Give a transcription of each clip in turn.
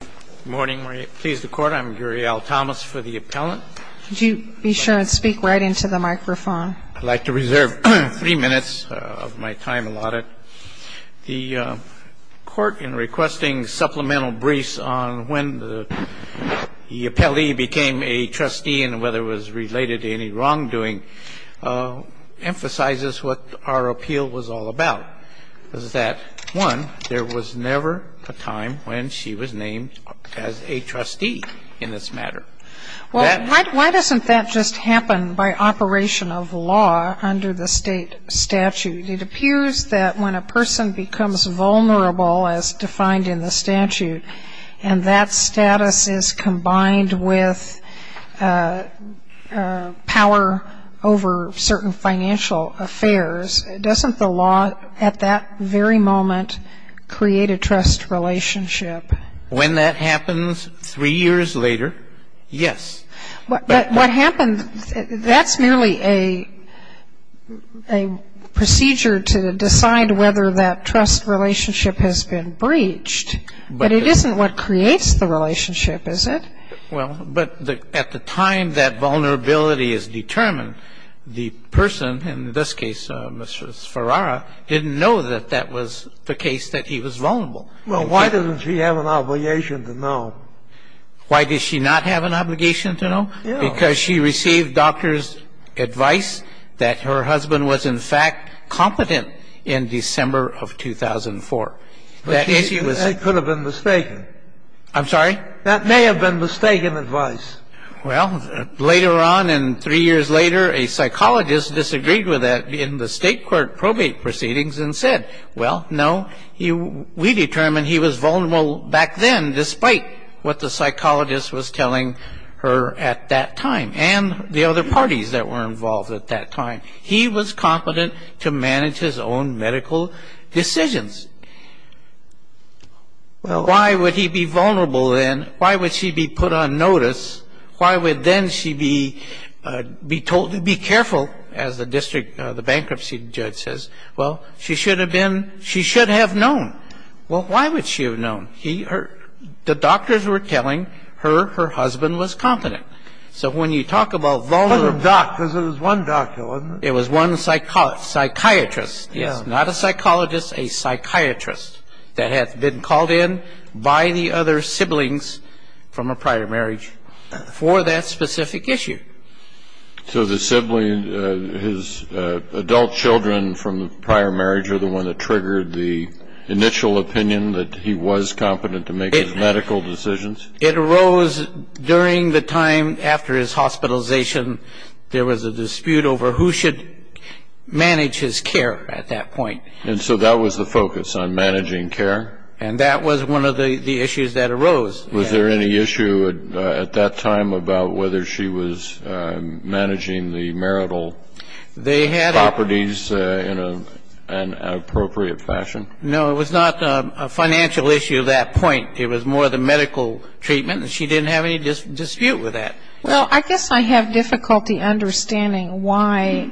Good morning. I'm pleased to court. I'm Gary L. Thomas for the appellant. Would you be sure and speak right into the microphone? I'd like to reserve three minutes of my time allotted. The court, in requesting supplemental briefs on when the appellee became a trustee and whether it was related to any wrongdoing, emphasizes what our appeal was all about. One, there was never a time when she was named as a trustee in this matter. Why doesn't that just happen by operation of law under the state statute? It appears that when a person becomes vulnerable, as defined in the statute, and that status is combined with power over certain financial affairs, doesn't the law at that very moment create a trust relationship? When that happens three years later, yes. But what happens, that's merely a procedure to decide whether that trust relationship has been breached. But it isn't what creates the relationship, is it? Well, but at the time that vulnerability is determined, the person, in this case, Mr. Ferrara, didn't know that that was the case, that he was vulnerable. Well, why doesn't she have an obligation to know? Why does she not have an obligation to know? Because she received doctor's advice that her husband was, in fact, competent in December of 2004. But that could have been mistaken. I'm sorry? That may have been mistaken advice. Well, later on and three years later, a psychologist disagreed with that in the state court probate proceedings and said, well, no, we determined he was vulnerable back then, despite what the psychologist was telling her at that time and the other parties that were involved at that time. He was competent to manage his own medical decisions. Why would he be vulnerable then? Why would she be put on notice? Why would then she be told to be careful, as the district, the bankruptcy judge says? Well, she should have been, she should have known. Well, why would she have known? The doctors were telling her her husband was competent. So when you talk about vulnerability. Because it was one doctor, wasn't it? It was one psychiatrist. Yes. Not a psychologist, a psychiatrist that had been called in by the other siblings from a prior marriage for that specific issue. So the sibling, his adult children from the prior marriage are the one that triggered the initial opinion that he was competent to make his medical decisions? It arose during the time after his hospitalization. There was a dispute over who should manage his care at that point. And so that was the focus on managing care? And that was one of the issues that arose. Was there any issue at that time about whether she was managing the marital properties in an appropriate fashion? No, it was not a financial issue at that point. It was more the medical treatment, and she didn't have any dispute with that. Well, I guess I have difficulty understanding why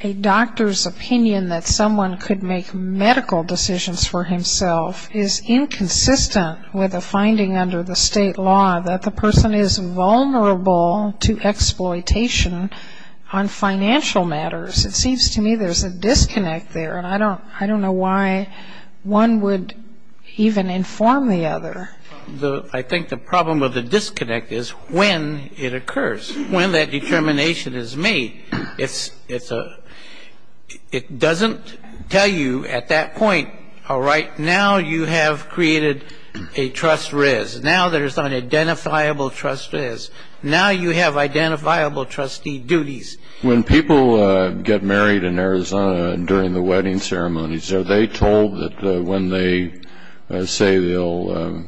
a doctor's opinion that someone could make medical decisions for himself is inconsistent with a finding under the state law that the person is vulnerable to exploitation on financial matters. It seems to me there's a disconnect there, and I don't know why one would even inform the other. I think the problem with the disconnect is when it occurs, when that determination is made. It doesn't tell you at that point, all right, now you have created a trust res. Now there's an identifiable trust res. Now you have identifiable trustee duties. When people get married in Arizona during the wedding ceremonies, are they told that when they say they'll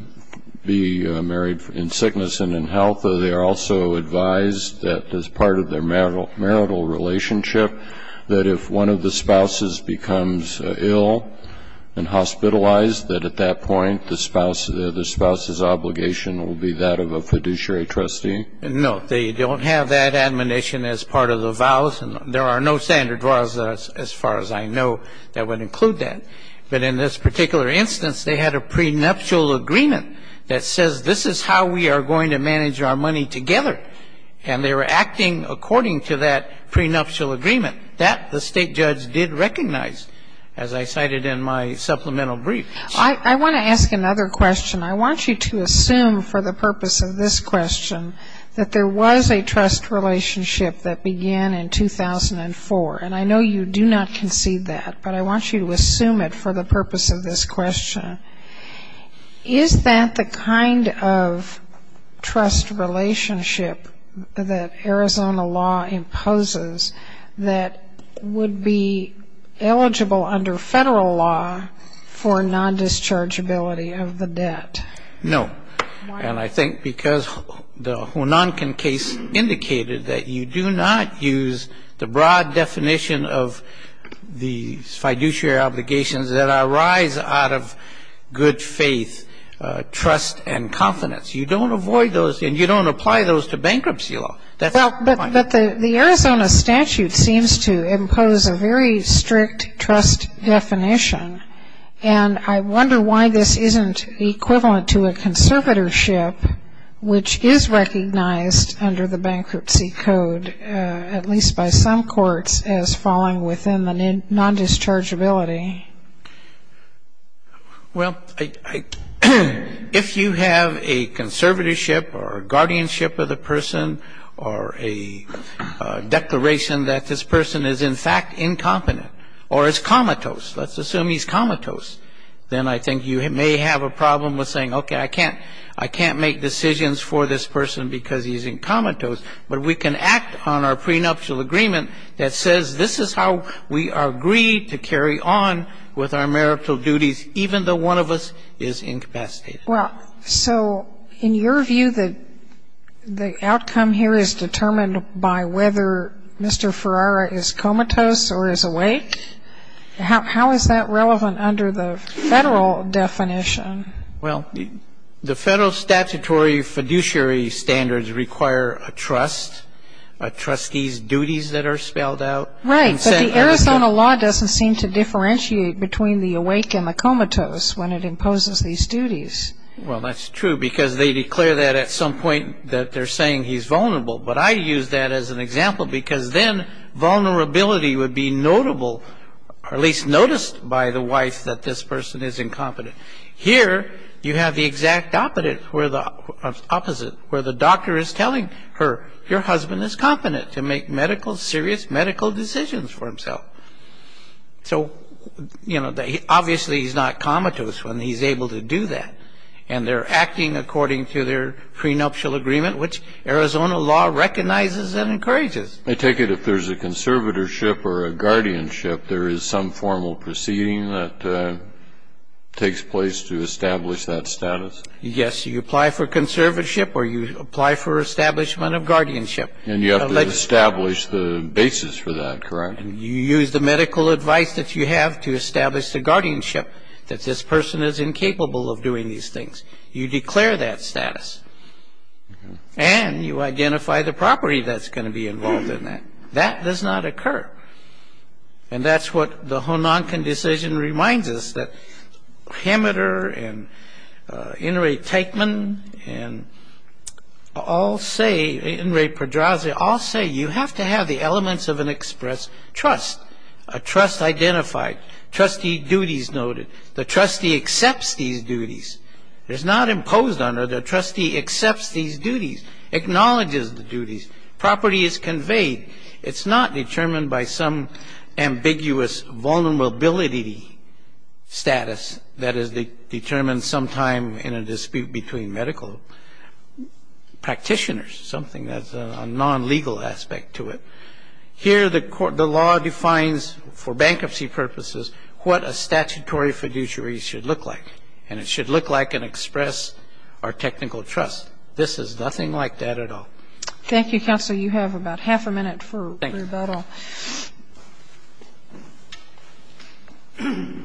be married in sickness and in health, are they also advised that as part of their marital relationship, that if one of the spouses becomes ill and hospitalized, that at that point the spouse's obligation will be that of a fiduciary trustee? No, they don't have that admonition as part of the vows, and there are no standard vows as far as I know that would include that. But in this particular instance, they had a prenuptial agreement that says this is how we are going to manage our money together, and they were acting according to that prenuptial agreement. That the state judge did recognize, as I cited in my supplemental brief. I want to ask another question. I want you to assume for the purpose of this question that there was a trust relationship that began in 2004, and I know you do not concede that, but I want you to assume it for the purpose of this question. Is that the kind of trust relationship that Arizona law imposes that would be eligible under federal law for non-dischargeability of the debt? No. And I think because the Hunan case indicated that you do not use the broad definition of the fiduciary obligations that arise out of good faith, trust, and confidence. You don't avoid those, and you don't apply those to bankruptcy law. But the Arizona statute seems to impose a very strict trust definition, and I wonder why this isn't equivalent to a conservatorship, which is recognized under the bankruptcy code, at least by some courts, as falling within the non-dischargeability. Well, if you have a conservatorship or a guardianship of the person or a declaration that this person is in fact incompetent or is comatose, let's assume he's comatose, then I think you may have a problem with saying, okay, I can't make decisions for this person because he's in comatose, but we can act on our prenuptial agreement that says this is how we agree to carry on with our marital duties even though one of us is incapacitated. Well, so in your view, the outcome here is determined by whether Mr. Ferrara is comatose or is awake? How is that relevant under the Federal definition? Well, the Federal statutory fiduciary standards require a trust, a trustee's duties that are spelled out. Right, but the Arizona law doesn't seem to differentiate between the awake and the comatose when it imposes these duties. Well, that's true because they declare that at some point that they're saying he's vulnerable, but I use that as an example because then vulnerability would be notable or at least noticed by the wife that this person is incompetent. Here you have the exact opposite, where the doctor is telling her, your husband is competent to make medical, serious medical decisions for himself. So, you know, obviously he's not comatose when he's able to do that, and they're acting according to their prenuptial agreement, which Arizona law recognizes and encourages. I take it if there's a conservatorship or a guardianship, there is some formal proceeding that takes place to establish that status? Yes, you apply for conservatorship or you apply for establishment of guardianship. And you have to establish the basis for that, correct? You use the medical advice that you have to establish the guardianship that this person is incapable of doing these things. You declare that status, and you identify the property that's going to be involved in that. That does not occur. And that's what the Hononkin decision reminds us, that Hameter and Inouye Teichman and all say, Inouye Pedraza all say you have to have the elements of an express trust, a trust identified, trustee duties noted. The trustee accepts these duties. It's not imposed on her, the trustee accepts these duties, acknowledges the duties, property is conveyed. It's not determined by some ambiguous vulnerability status that is determined sometime in a dispute between medical practitioners, something that's a non-legal aspect to it. Here the law defines for bankruptcy purposes what a statutory fiduciary should look like, and it should look like an express or technical trust. This is nothing like that at all. Thank you, Counsel. You have about half a minute for rebuttal. Thank you.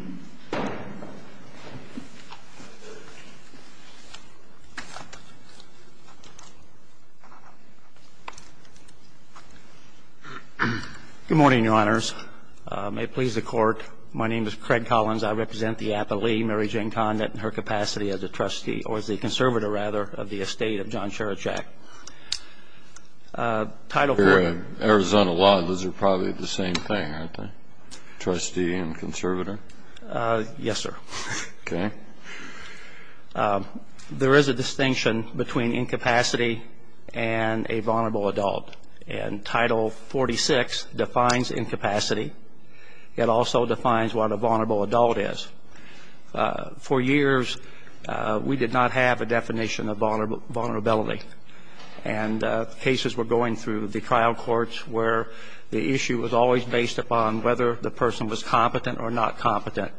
Good morning, Your Honors. May it please the Court. My name is Craig Collins. I represent the appellee, Mary Jane Condit, in her capacity as a trustee or as a conservator, rather, of the estate of John Czaraczak. Title IV. Arizona law, those are probably the same thing, aren't they, trustee and conservator? Yes, sir. Okay. There is a distinction between incapacity and a vulnerable adult, and Title XLVI defines incapacity. It also defines what a vulnerable adult is. For years we did not have a definition of vulnerability, and cases were going through the trial courts where the issue was always based upon whether the person was competent or not competent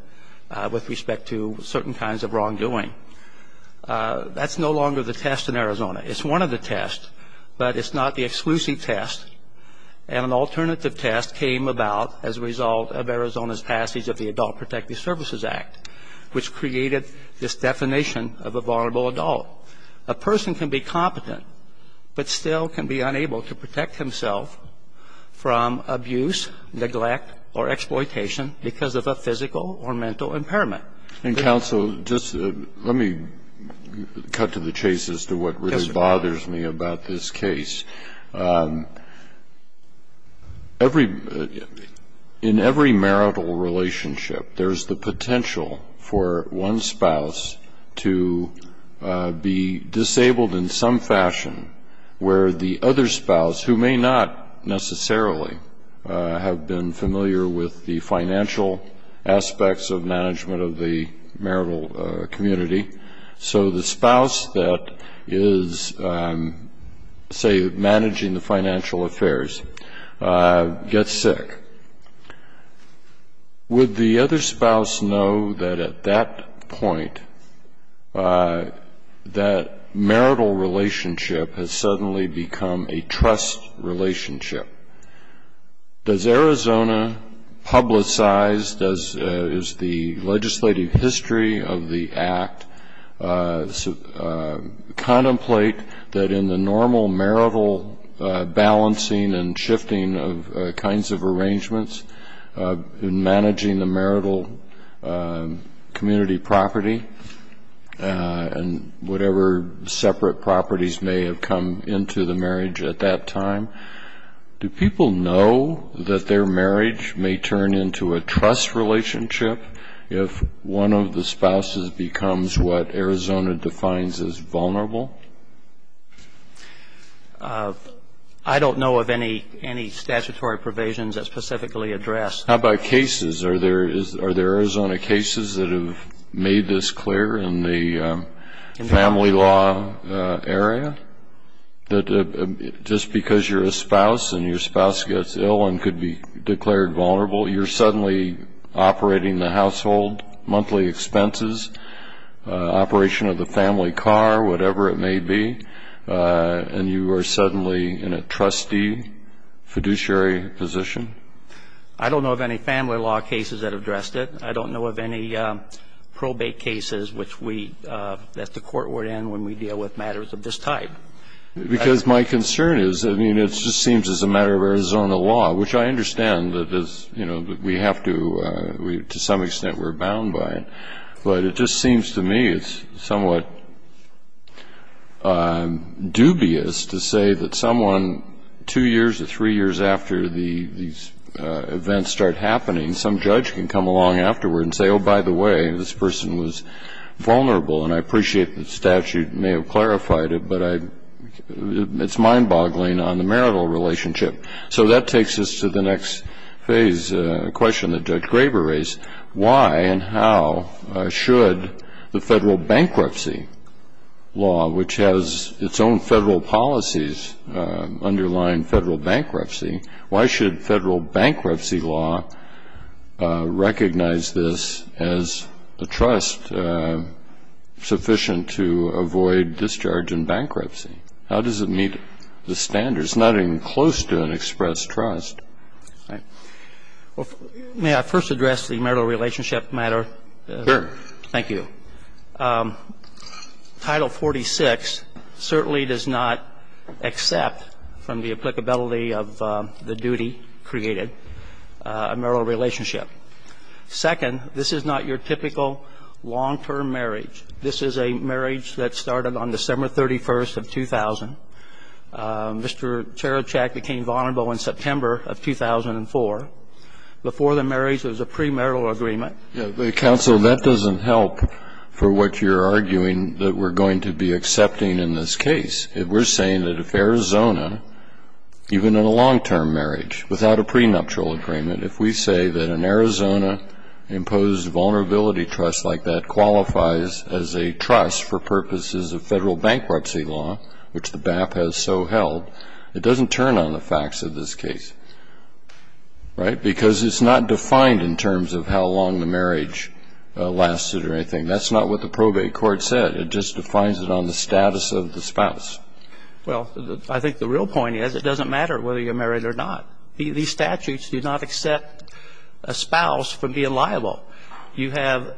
with respect to certain kinds of wrongdoing. That's no longer the test in Arizona. It's one of the tests, but it's not the exclusive test. And an alternative test came about as a result of Arizona's passage of the Adult Protective Services Act, which created this definition of a vulnerable adult. A person can be competent, but still can be unable to protect himself from abuse, neglect, or exploitation because of a physical or mental impairment. And, counsel, just let me cut to the chase as to what really bothers me about this case. In every marital relationship, there's the potential for one spouse to be disabled in some fashion, where the other spouse, who may not necessarily have been familiar with the financial aspects of management of the marital community, so the spouse that is, say, managing the financial affairs, gets sick. Would the other spouse know that at that point, that marital relationship has suddenly become a trust relationship? Does Arizona publicize, does the legislative history of the Act contemplate that in the normal marital balancing and shifting of kinds of arrangements in managing the marital community property and whatever separate properties may have come into the marriage at that time, do people know that their marriage may turn into a trust relationship if one of the spouses becomes what Arizona defines as vulnerable? I don't know of any statutory provisions that specifically address. How about cases? Are there Arizona cases that have made this clear in the family law area, that just because you're a spouse and your spouse gets ill and could be declared vulnerable, you're suddenly operating the household, monthly expenses, operation of the family car, whatever it may be, and you are suddenly in a trustee fiduciary position? I don't know of any family law cases that have addressed it. I don't know of any probate cases which we, that the court would end when we deal with matters of this type. Because my concern is, I mean, it just seems as a matter of Arizona law, which I understand that we have to, to some extent we're bound by it, but it just seems to me it's somewhat dubious to say that someone, two years or three years after these events start happening, some judge can come along afterward and say, oh, by the way, this person was vulnerable. And I appreciate the statute may have clarified it, but it's mind-boggling on the marital relationship. So that takes us to the next phase, a question that Judge Graber raised. Why and how should the federal bankruptcy law, which has its own federal policies underlying federal bankruptcy, why should federal bankruptcy law recognize this as a trust sufficient to avoid discharge in bankruptcy? How does it meet the standards? It's not even close to an express trust. Right. Well, may I first address the marital relationship matter? Sure. Thank you. Title 46 certainly does not accept from the applicability of the duty created a marital relationship. Second, this is not your typical long-term marriage. This is a marriage that started on December 31st of 2000. Mr. Cherichak became vulnerable in September of 2004. Before the marriage, there was a premarital agreement. Counsel, that doesn't help for what you're arguing that we're going to be accepting in this case. We're saying that if Arizona, even in a long-term marriage, without a prenuptial agreement, if we say that an Arizona-imposed vulnerability trust like that qualifies as a trust for purposes of federal bankruptcy law, which the BAP has so held, it doesn't turn on the facts of this case. Right? Because it's not defined in terms of how long the marriage lasted or anything. That's not what the probate court said. It just defines it on the status of the spouse. Well, I think the real point is it doesn't matter whether you're married or not. These statutes do not accept a spouse from being liable. You have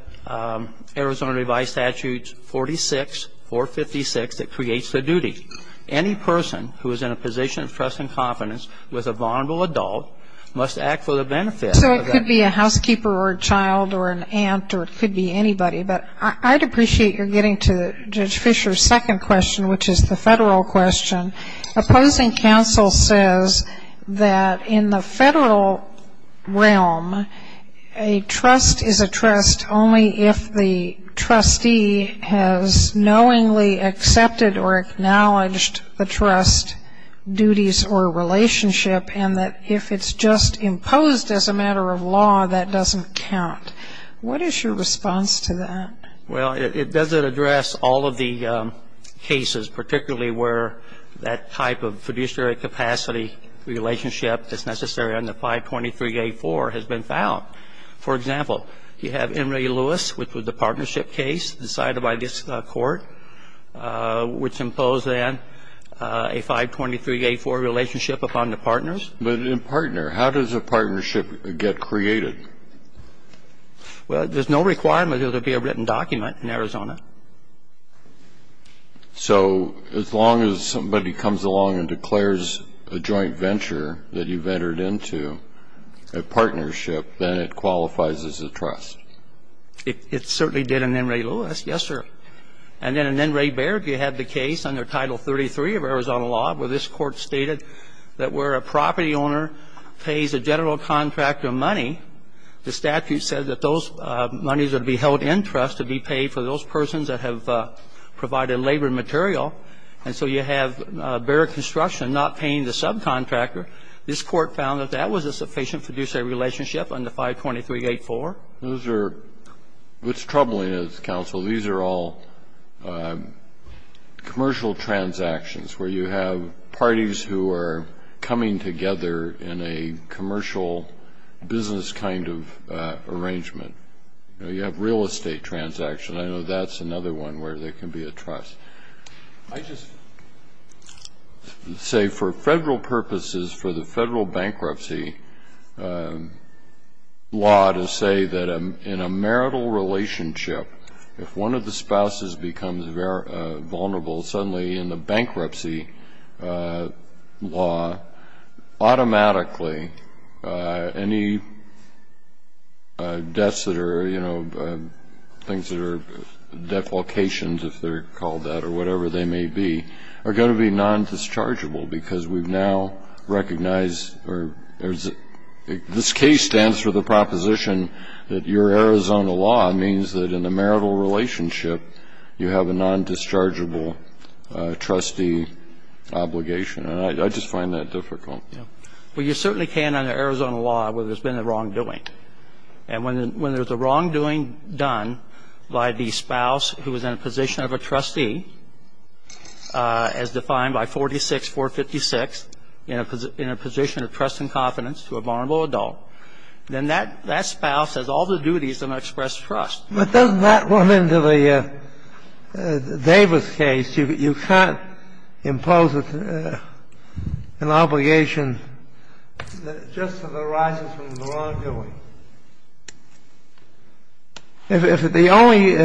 Arizona Revised Statutes 46, 456, that creates the duty. Any person who is in a position of trust and confidence with a vulnerable adult must act for the benefit of that. So it could be a housekeeper or a child or an aunt or it could be anybody. But I'd appreciate your getting to Judge Fischer's second question, which is the federal question. Opposing counsel says that in the federal realm, a trust is a trust only if the trustee has knowingly accepted or acknowledged the trust duties or relationship, and that if it's just imposed as a matter of law, that doesn't count. What is your response to that? Well, it doesn't address all of the cases, particularly where that type of fiduciary capacity relationship is necessary, and the 523A4 has been found. For example, you have Emory-Lewis, which was the partnership case decided by this court, which imposed then a 523A4 relationship upon the partners. But in partner, how does a partnership get created? Well, there's no requirement that there be a written document in Arizona. So as long as somebody comes along and declares a joint venture that you've entered into, a partnership, then it qualifies as a trust? It certainly did in Emory-Lewis, yes, sir. And then in N. Ray Baird, you had the case under Title 33 of Arizona law where this court stated that where a property owner pays a general contractor money, the statute said that those monies would be held in trust to be paid for those persons that have provided labor material. And so you have Baird Construction not paying the subcontractor. This court found that that was a sufficient fiduciary relationship under 523A4. Those are what's troubling us, counsel. These are all commercial transactions where you have parties who are coming together in a commercial business kind of arrangement. You have real estate transactions. I know that's another one where there can be a trust. I just say for federal purposes, for the federal bankruptcy law to say that in a marital relationship, you have a non-dischargeable trustee obligation. And I just find that difficult. Well, you certainly can under Arizona law where there's been a wrongdoing. And when there's a wrongdoing done by the spouse who is in a position of a trustee, as defined by 46456, in a position of trust and confidence to a vulnerable adult, then that spouse has all the duties to express trust. But doesn't that run into the Davis case? You can't impose an obligation just that arises from the wrongdoing. If the only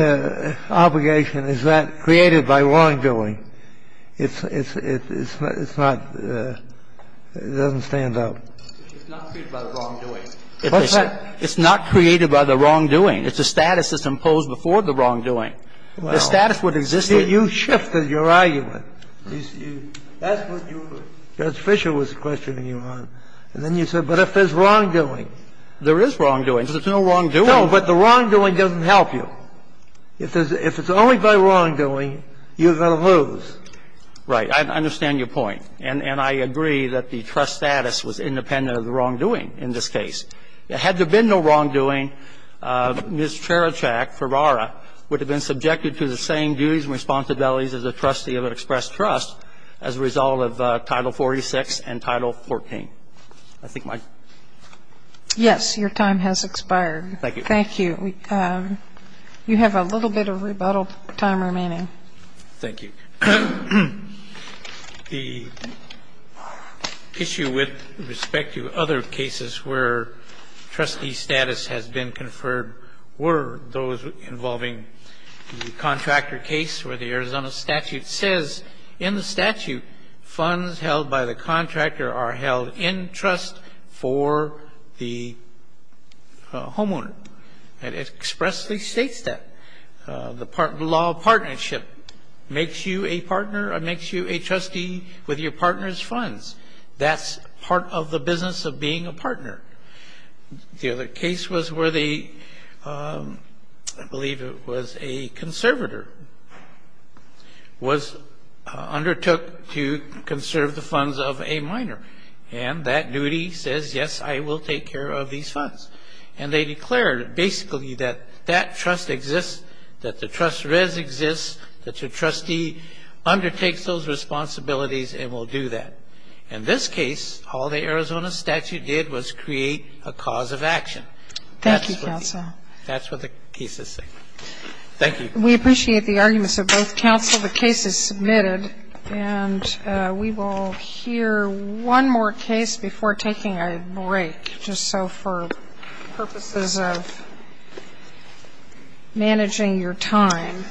obligation is that created by wrongdoing, it's not the – it doesn't stand up. It's not created by the wrongdoing. What's that? It's not created by the wrongdoing. It's a status that's imposed before the wrongdoing. The status would exist in the – Well, you shifted your argument. That's what you were – Judge Fischer was questioning you on. And then you said, but if there's wrongdoing. There is wrongdoing. There's no wrongdoing. No, but the wrongdoing doesn't help you. If there's – if it's only by wrongdoing, you're going to lose. Right. I understand your point. And I agree that the trust status was independent of the wrongdoing in this case. Had there been no wrongdoing, Ms. Cherichak, Ferrara, would have been subjected to the same duties and responsibilities as a trustee of an express trust as a result of Title 46 and Title 14. I think my – Yes. Your time has expired. Thank you. Thank you. You have a little bit of rebuttal time remaining. Thank you. The issue with respect to other cases where trustee status has been conferred were those involving the contractor case where the Arizona statute says in the statute funds held by the contractor are held in trust for the homeowner. It expressly states that. The law of partnership makes you a partner or makes you a trustee with your partner's funds. That's part of the business of being a partner. The other case was where the – I believe it was a conservator was undertook to conserve the funds of a minor. And that duty says, yes, I will take care of these funds. And they declared basically that that trust exists, that the trust res exists, that your trustee undertakes those responsibilities and will do that. In this case, all the Arizona statute did was create a cause of action. Thank you, counsel. That's what the cases say. Thank you. We appreciate the arguments of both counsel. The case is submitted. And we will hear one more case before taking a break, just so for purposes of managing your time.